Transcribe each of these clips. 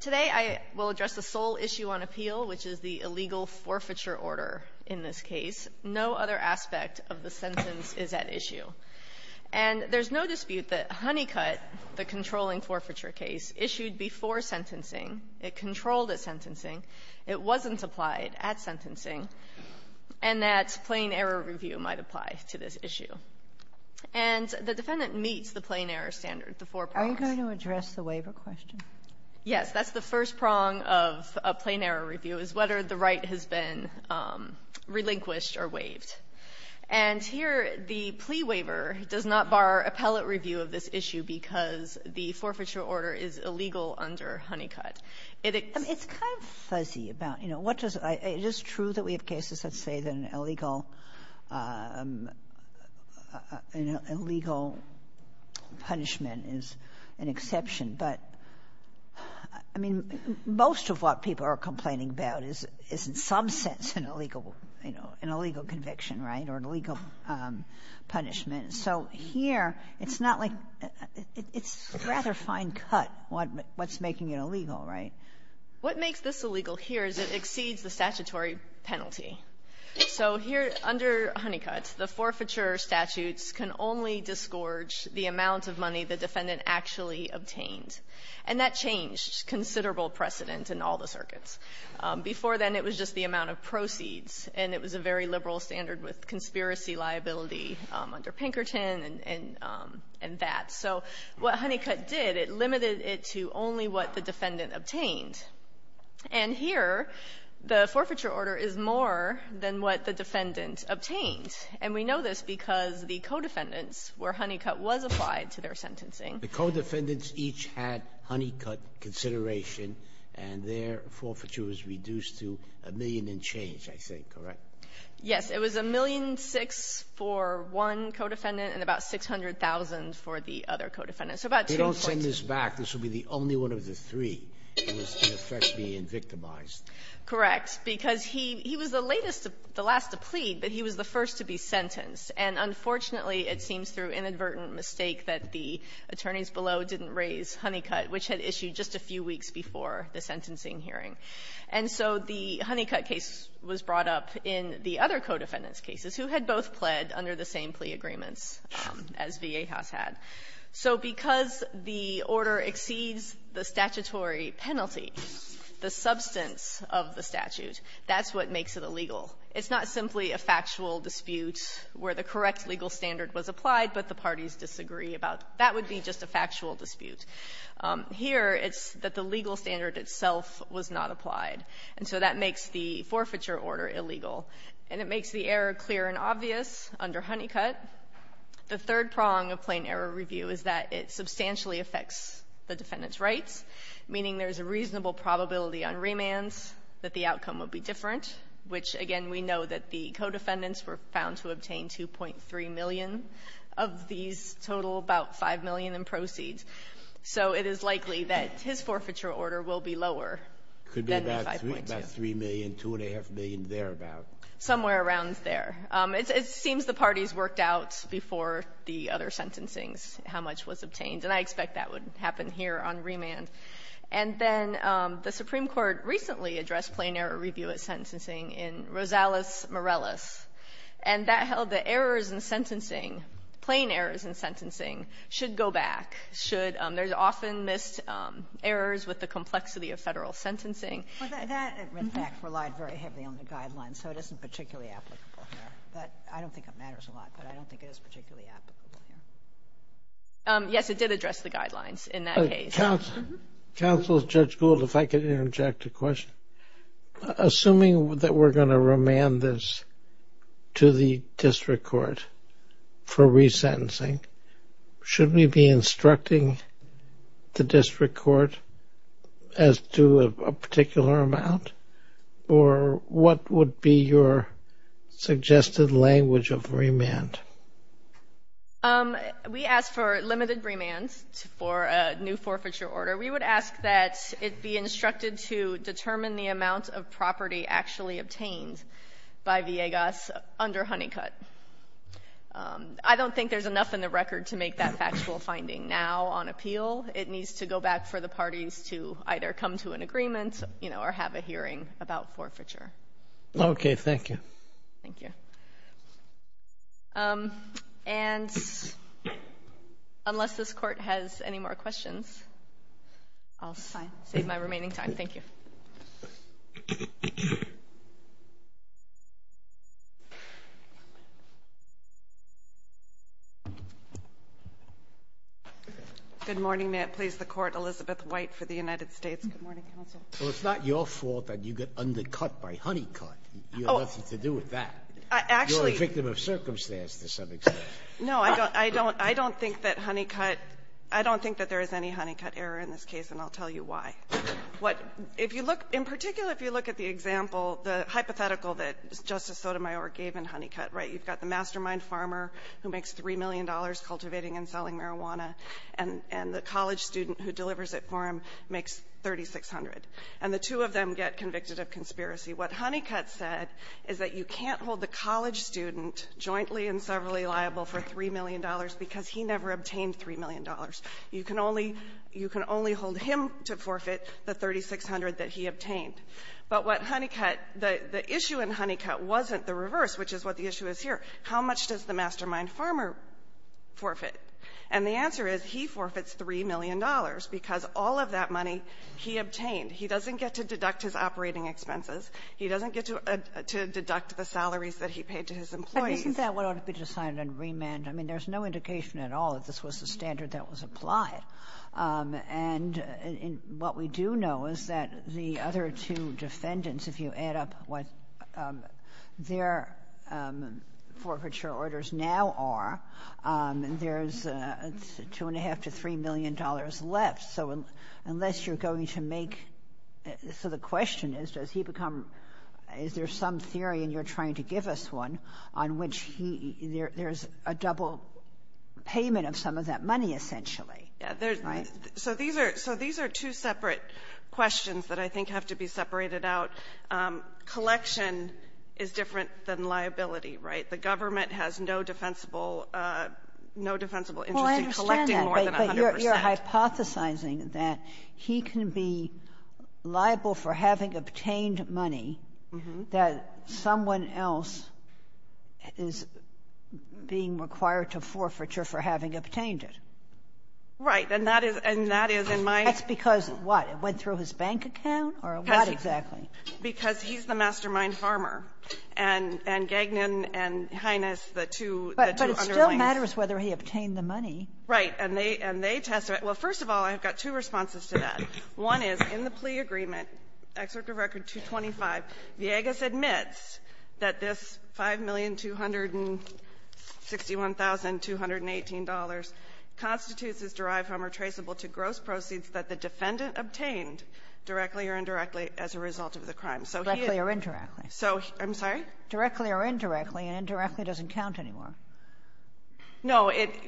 Today I will address the sole issue on appeal, which is the illegal forfeiture order in this case. No other aspect of the sentence is at issue. And there's no dispute that Honeycutt, the controlling forfeiture case, issued before sentencing, it controlled its sentencing, and it's not a new issue. It wasn't applied at sentencing, and that plain-error review might apply to this issue. And the defendant meets the plain-error standard, the four prongs. Kagan Are you going to address the waiver question? Villegas Yes. That's the first prong of a plain-error review, is whether the right has been relinquished or waived. And here the plea waiver does not bar appellate review of this issue because the forfeiture order is illegal under Honeycutt. It's kind of fuzzy about, you know, what does — it is true that we have cases, let's say, that an illegal — an illegal punishment is an exception. But, I mean, most of what people are complaining about is in some sense an illegal — you know, an illegal conviction, right, or an illegal punishment. So here, it's not like — it's rather fine-cut what's making it illegal, right? Villegas What makes this illegal here is it exceeds the statutory penalty. So here, under Honeycutt, the forfeiture statutes can only disgorge the amount of money the defendant actually obtained. And that changed considerable precedent in all the circuits. Before then, it was just the amount of proceeds, and it was a very liberal standard with conspiracy liability under Pinkerton and that. So what Honeycutt did, it limited it to only what the defendant obtained. And here, the forfeiture order is more than what the defendant obtained. And we know this because the co-defendants where Honeycutt was applied to their sentencing — Sotomayor The co-defendants each had Honeycutt consideration, and their forfeiture was reduced to a million and change, I think, correct? Villegas Yes. It was a million six for one co-defendant and about 600,000 for the other co-defendant. So about two and a quarter — Sotomayor They don't send this back. This would be the only one of the three that was in effect being victimized. Villegas Correct. Because he was the latest — the last to plead, but he was the first to be sentenced. And unfortunately, it seems through inadvertent mistake that the attorneys below didn't raise Honeycutt, which had issued just a few weeks before the sentencing hearing. And so the Honeycutt case was brought up in the other co-defendants' cases who had both pled under the same plea agreements as Viejas had. So because the order exceeds the statutory penalty, the substance of the statute, that's what makes it illegal. It's not simply a factual dispute where the correct legal standard was applied, but the parties disagree about. That would be just a factual dispute. Here, it's that the legal standard itself was not applied. And so that makes the forfeiture order illegal. And it makes the error clear and obvious under Honeycutt. The third prong of plain error review is that it substantially affects the defendant's rights, meaning there's a reasonable probability on remands that the outcome would be different, which, again, we know that the co-defendants were found to obtain 2.3 million of these total about 5 million in proceeds. So it is likely that his forfeiture order will be lower than the 5.2. It could be about 3 million, 2.5 million, thereabouts. Somewhere around there. It seems the parties worked out before the other sentencings how much was obtained. And I expect that would happen here on remand. And then the Supreme Court recently addressed plain error review at sentencing in Rosales-Morales. And that held that errors in sentencing, plain errors in sentencing, should go back, should, there's often missed errors with the complexity of federal sentencing. Well, that, in fact, relied very heavily on the guidelines, so it isn't particularly applicable here. But I don't think it matters a lot, but I don't think it is particularly applicable here. Yes, it did address the guidelines in that case. Counsel, Judge Gould, if I could interject a question. Assuming that we're going to the district court as to a particular amount, or what would be your suggested language of remand? We ask for limited remand for a new forfeiture order. We would ask that it be instructed to determine the amount of property actually obtained by Villegas under Honeycutt. I don't think there's enough in the record to make that factual finding. Now, on appeal, it needs to go back for the parties to either come to an agreement, you know, or have a hearing about forfeiture. Okay. Thank you. Thank you. And unless this Court has any more questions, I'll save my remaining time. Thank you. Good morning. May it please the Court. Elizabeth White for the United States. Good morning, counsel. Well, it's not your fault that you get undercut by Honeycutt. You have nothing to do with that. Actually you're a victim of circumstance to some extent. No, I don't. I don't. I don't think that Honeycutt – I don't think that there is any Honeycutt error in this case, and I'll tell you why. What – if you look – in particular, if you look at the example, the hypothetical that Justice Sotomayor gave in Honeycutt, right, you've got the mastermind farmer who makes $3 million cultivating and selling marijuana, and the college student who delivers it for him makes $3,600. And the two of them get convicted of conspiracy. What Honeycutt said is that you can't hold the college student jointly and severally liable for $3 million because he never obtained $3 million. You can only – you can only hold him to forfeit the $3,600 that he obtained. But what Honeycutt – the issue in Honeycutt wasn't the reverse, which is what the issue is here. How much does the mastermind farmer forfeit? And the answer is he forfeits $3 million because all of that money he obtained. He doesn't get to deduct his operating expenses. He doesn't get to deduct the salaries that he paid to his employees. Kagan, isn't that what ought to be decided on remand? I mean, there's no indication at all that this was the standard that was applied. And what we do know is that the other two defendants, if you add up what their forfeiture orders now are, there's $2.5 to $3 million left. So unless you're going to make – so the question is, does he become – is there some theory, and you're trying to give us one, on which he – there's a double payment of some of that money, essentially. Right? So these are – so these are two separate questions that I think have to be separated out. So collection is different than liability, right? The government has no defensible – no defensible interest in collecting more than 100 percent. Well, I understand that, but you're hypothesizing that he can be liable for having obtained money that someone else is being required to forfeiture for having obtained it. Right. And that is – and that is in my – That's because of what? It went through his bank account or what exactly? Because he's the mastermind farmer. And – and Gagnon and Hyness, the two – the two underlings – But – but it still matters whether he obtained the money. Right. And they – and they testified – well, first of all, I've got two responses to that. One is in the plea agreement, Excerpt of Record 225, Villegas admits that this $5,261,218 constitutes as derived from or traceable to gross proceeds that the defendant obtained directly or indirectly as a result of the crime. So he is – Directly or indirectly. So – I'm sorry? Directly or indirectly, and indirectly doesn't count anymore. No. It –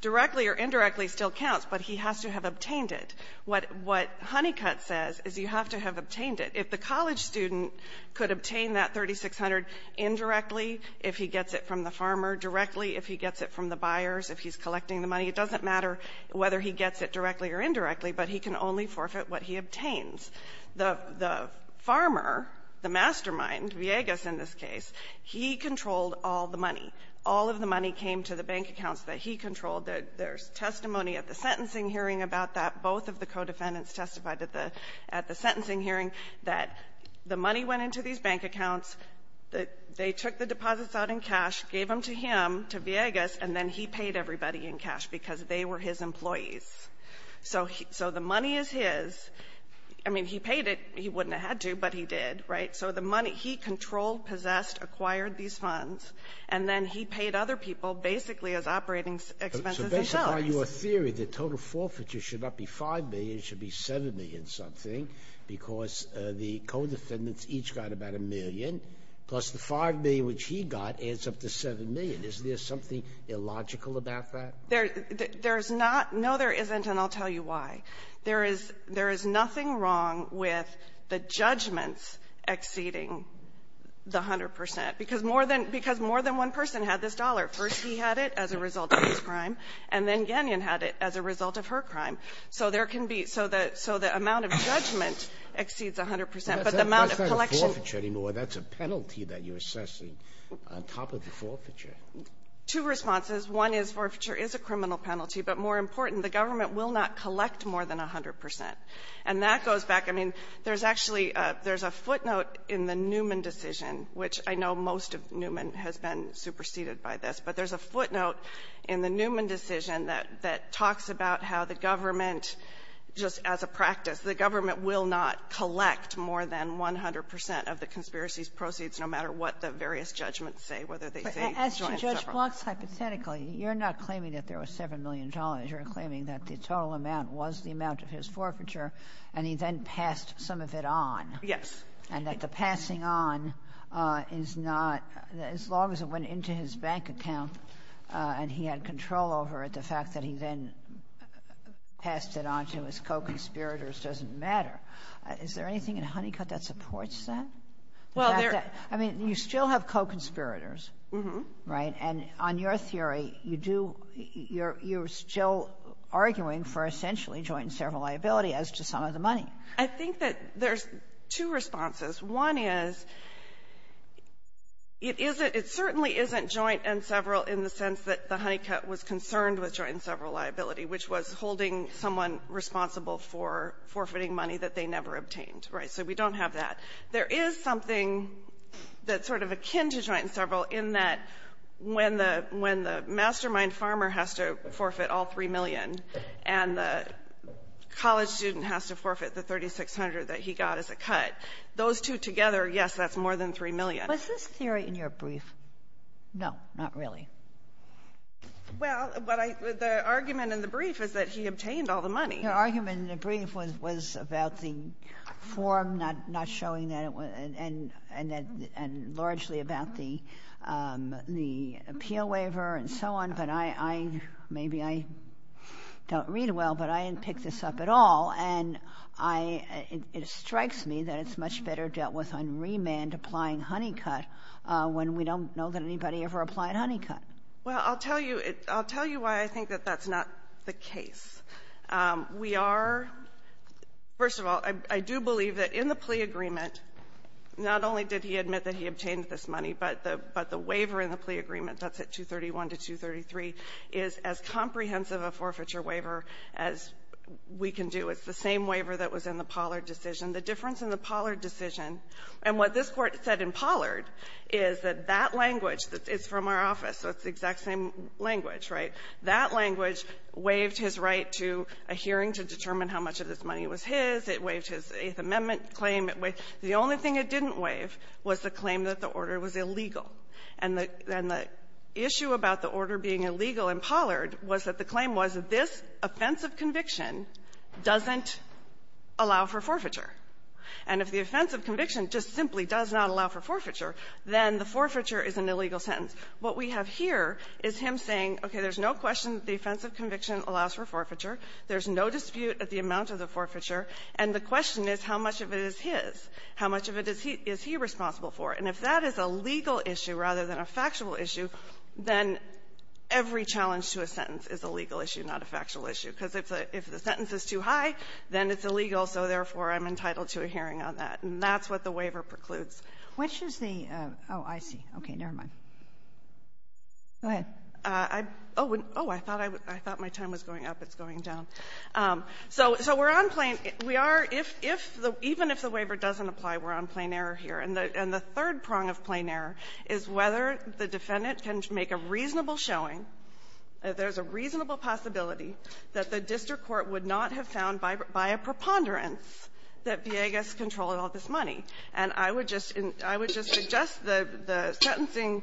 directly or indirectly still counts, but he has to have obtained it. What – what Honeycutt says is you have to have obtained it. If the college student could obtain that $3,600 indirectly if he gets it from the farmer, directly if he gets it from the buyers, if he's collecting the money, it doesn't matter whether he gets it directly or indirectly, but he can only forfeit what he obtains. The – the farmer, the mastermind, Villegas in this case, he controlled all the money. All of the money came to the bank accounts that he controlled. There's testimony at the sentencing hearing about that. Both of the co-defendants testified at the – at the sentencing hearing that the money went into these bank accounts, that they took the deposits out in cash, gave them to him, to Villegas, and then he paid everybody in cash because they were his employees. So he – so the money is his. I mean, he paid it. He wouldn't have had to, but he did, right? So the money – he controlled, possessed, acquired these funds, and then he paid other people basically as operating expenses and salaries. So based upon your theory, the total forfeiture should not be $5 million, it should be $7 million-something, because the co-defendants each got about a million, plus the $5 million which he got adds up to $7 million. Is there something illogical about that? There's not. No, there isn't, and I'll tell you why. There is – there is nothing wrong with the judgments exceeding the 100 percent. Because more than – because more than one person had this dollar. First he had it as a result of his crime, and then Gagnon had it as a result of her crime. So there can be – so the – so the amount of judgment exceeds 100 percent. But the amount of collection – That's not a forfeiture anymore. That's a penalty that you're assessing on top of the forfeiture. Two responses. One is forfeiture is a criminal penalty, but more important, the government will not collect more than 100 percent. And that goes back – I mean, there's actually – there's a footnote in the Newman decision, which I know most of Newman has been superseded by this, but there's a footnote in the Newman decision that – that talks about how the government just as a practice, the government will not collect more than 100 percent of the conspiracy's proceeds, no matter what the various judgments say, whether they say join several. But as to Judge Block's hypothetical, you're not claiming that there was $7 million. You're claiming that the total amount was the amount of his forfeiture, and he then passed some of it on. Yes. And that the passing on is not – as long as it went into his bank account and he had control over it, the fact that he then passed it on to his co-conspirators doesn't matter. Is there anything in Honeycutt that supports that? Well, there — I mean, you still have co-conspirators. Mm-hmm. Right? And on your theory, you do – you're still arguing for essentially joint and several liability as to some of the money. I think that there's two responses. One is it isn't – it certainly isn't joint and several in the sense that the Honeycutt was concerned with joint and several liability, which was holding someone responsible for forfeiting money that they never obtained. Right? So we don't have that. There is something that's sort of akin to joint and several in that when the – when the mastermind farmer has to forfeit all $3 million and the college student has to forfeit the $3,600 that he got as a cut, those two together, yes, that's more than $3 million. Was this theory in your brief? No, not really. Well, what I – the argument in the brief is that he obtained all the money. Your argument in the brief was about the form not showing that it was – and largely about the appeal waiver and so on, but I – maybe I don't read well, but I didn't pick this up at all, and I – it strikes me that it's much better dealt with on remand applying Honeycutt when we don't know that anybody ever applied Honeycutt. Well, I'll tell you – I'll tell you why I think that that's not the case. We are – first of all, I do believe that in the plea agreement, not only did he admit that he obtained this money, but the – but the waiver in the plea agreement, that's at 231 to 233, is as comprehensive a forfeiture waiver as we can do. It's the same waiver that was in the Pollard decision. The difference in the Pollard decision – and what this Court said in Pollard is that that language – it's from our office, so it's the exact same language, right? That language waived his right to a hearing to determine how much of this money was his. It waived his Eighth Amendment claim. The only thing it didn't waive was the claim that the order was illegal. And the – and the issue about the order being illegal in Pollard was that the claim was that this offense of conviction doesn't allow for forfeiture. And if the offense of conviction just simply does not allow for forfeiture, then the forfeiture is an illegal sentence. What we have here is him saying, okay, there's no question that the offense of conviction allows for forfeiture. There's no dispute at the amount of the forfeiture. And the question is, how much of it is his? How much of it is he – is he responsible for? And if that is a legal issue rather than a factual issue, then every challenge to a sentence is a legal issue, not a factual issue, because if the – if the sentence is too high, then it's illegal, so therefore, I'm entitled to a hearing on that. And that's what the waiver precludes. Kagan. Which is the – oh, I see. Okay. Never mind. Go ahead. I – oh, I thought I – I thought my time was going up. It's going down. So we're on plain – we are – if the – even if the waiver doesn't apply, we're on plain error here. And the third prong of plain error is whether the defendant can make a reasonable showing that there's a reasonable possibility that the district court would not have been found by a preponderance that Villegas controlled all this money. And I would just – I would just suggest the – the sentencing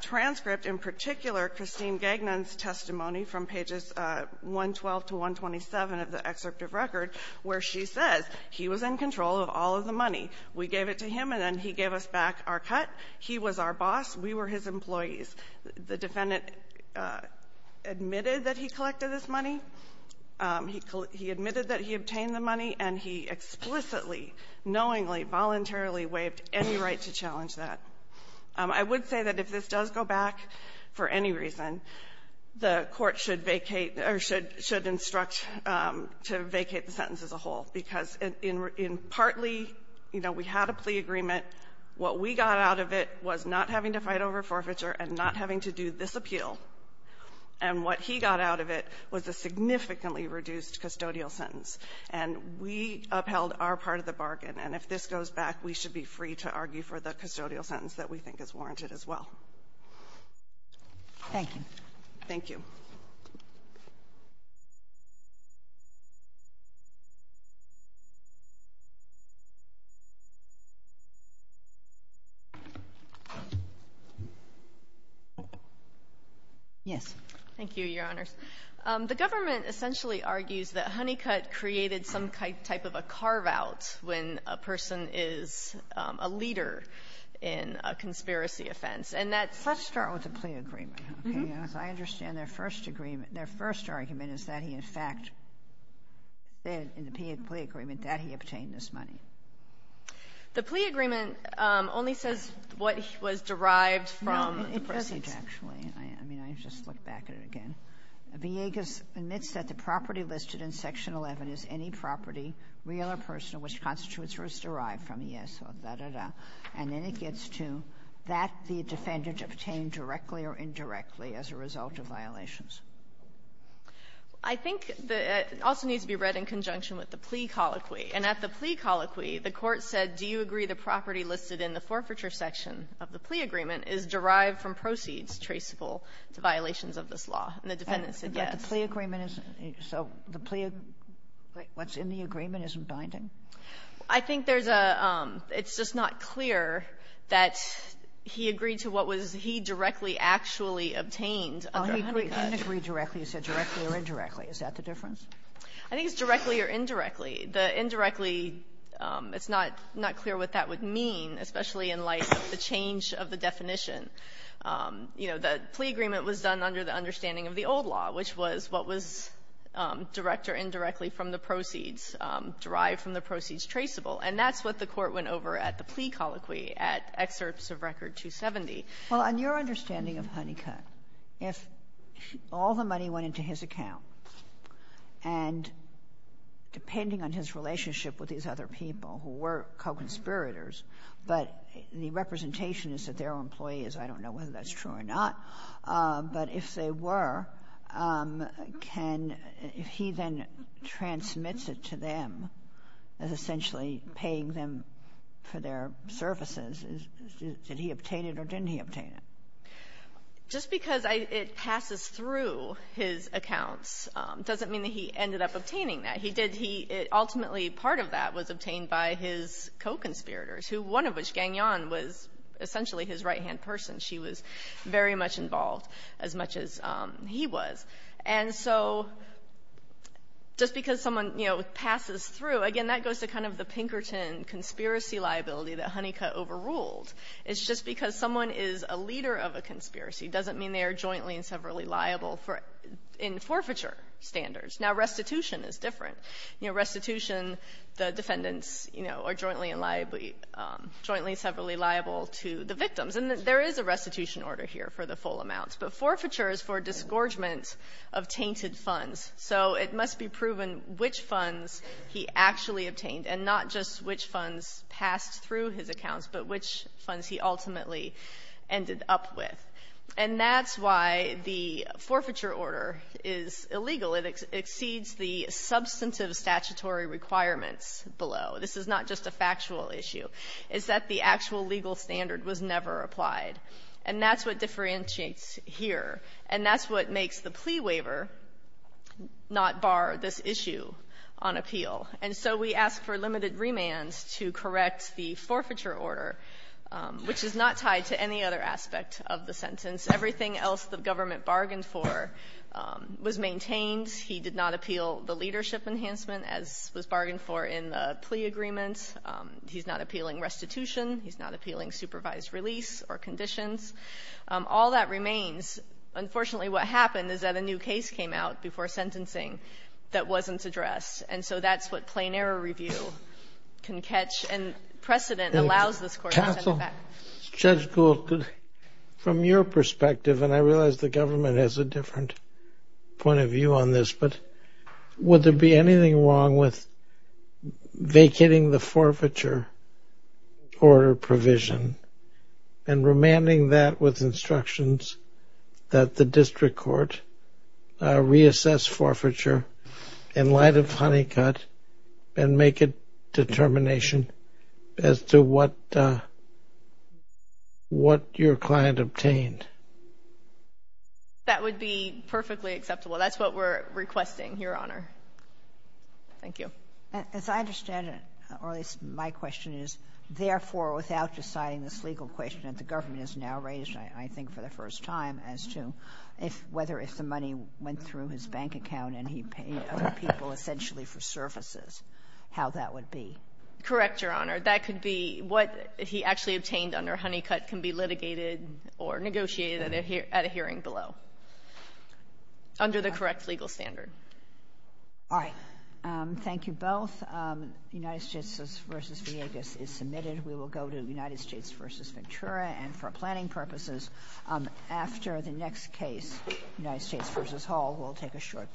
transcript, in particular, Christine Gagnon's testimony from pages 112 to 127 of the excerpt of record, where she says he was in control of all of the money. We gave it to him, and then he gave us back our cut. He was our boss. We were his employees. The defendant admitted that he collected this money. He admitted that he collected the money. He admitted that he obtained the money, and he explicitly, knowingly, voluntarily waived any right to challenge that. I would say that if this does go back for any reason, the Court should vacate – or should – should instruct to vacate the sentence as a whole, because in – in partly, you know, we had a plea agreement. What we got out of it was not having to fight over forfeiture and not having to do this And we upheld our part of the bargain. And if this goes back, we should be free to argue for the custodial sentence that we think is warranted as well. Thank you. Thank you. Yes. Thank you, Your Honors. The government essentially argues that Honeycutt created some type of a carve-out when a person is a leader in a conspiracy offense. And that's – Let's start with the plea agreement, okay? Mm-hmm. Because I understand their first agreement – their first argument is that he, in fact – that in the plea agreement, that he obtained this money. The plea agreement only says what was derived from the proceeds. I mean, I just look back at it again. Villegas admits that the property listed in Section 11 is any property, real or personal, which constitutes or is derived from the yes or da-da-da. And then it gets to that the defendant obtained directly or indirectly as a result of violations. I think the – it also needs to be read in conjunction with the plea colloquy. And at the plea colloquy, the Court said, do you agree the property listed in the defendant's plea is traceable to violations of this law? And the defendant said yes. But the plea agreement is – so the plea – what's in the agreement isn't binding? I think there's a – it's just not clear that he agreed to what was – he directly actually obtained Honeycutt. Well, he didn't agree directly. He said directly or indirectly. Is that the difference? I think it's directly or indirectly. The indirectly, it's not clear what that would mean, especially in light of the change of the definition. You know, the plea agreement was done under the understanding of the old law, which was what was direct or indirectly from the proceeds, derived from the proceeds traceable. And that's what the Court went over at the plea colloquy at Excerpts of Record 270. Well, on your understanding of Honeycutt, if all the money went into his account, and depending on his relationship with these other people who were co-conspirators, but the representation is that their employee is – I don't know whether that's true or not – but if they were, can – if he then transmits it to them as essentially paying them for their services, is – did he obtain it or didn't he obtain it? Just because I – it passes through his accounts doesn't mean that he ended up obtaining that. He did – he – ultimately, part of that was obtained by his co-conspirators, who – one of which, Gagnon, was essentially his right-hand person. She was very much involved, as much as he was. And so just because someone, you know, passes through – again, that goes to kind of the Pinkerton conspiracy liability that Honeycutt overruled. It's just because someone is a leader of a conspiracy doesn't mean they are jointly and severally liable for – in forfeiture standards. Now, restitution is different. You know, restitution, the defendants, you know, are jointly and liably – jointly and severally liable to the victims. And there is a restitution order here for the full amounts, but forfeiture is for disgorgement of tainted funds. So it must be proven which funds he actually obtained, and not just which funds passed through his accounts, but which funds he ultimately ended up with. And that's why the forfeiture order is illegal. It exceeds the substantive statutory requirements below. This is not just a factual issue. It's that the actual legal standard was never applied. And that's what differentiates here. And that's what makes the plea waiver not bar this issue on appeal. And so we ask for limited remands to correct the forfeiture order, which is not tied to any other aspect of the sentence. Everything else the government bargained for was maintained. He did not appeal the leadership enhancement, as was bargained for in the plea agreement. He's not appealing restitution. He's not appealing supervised release or conditions. All that remains, unfortunately, what happened is that a new case came out before sentencing that wasn't addressed. And so that's what plain error review can catch. And precedent allows this Court to set a fact. Judge Gould, from your perspective, and I realize the government has a different point of view on this, but would there be anything wrong with vacating the forfeiture order provision and remanding that with instructions that the district court reassess forfeiture in light of Honeycutt and make a determination as to what your client obtained? That would be perfectly acceptable. That's what we're requesting, Your Honor. Thank you. As I understand it, or at least my question is, therefore, without deciding this legal question that the government has now raised, I think, for the first time as to whether or if the money went through his bank account and he paid other people essentially for services, how that would be. Correct, Your Honor. That could be what he actually obtained under Honeycutt can be litigated or negotiated at a hearing below under the correct legal standard. All right. Thank you both. United States v. Villegas is submitted. We will go to United States v. Hall. We'll take a short break.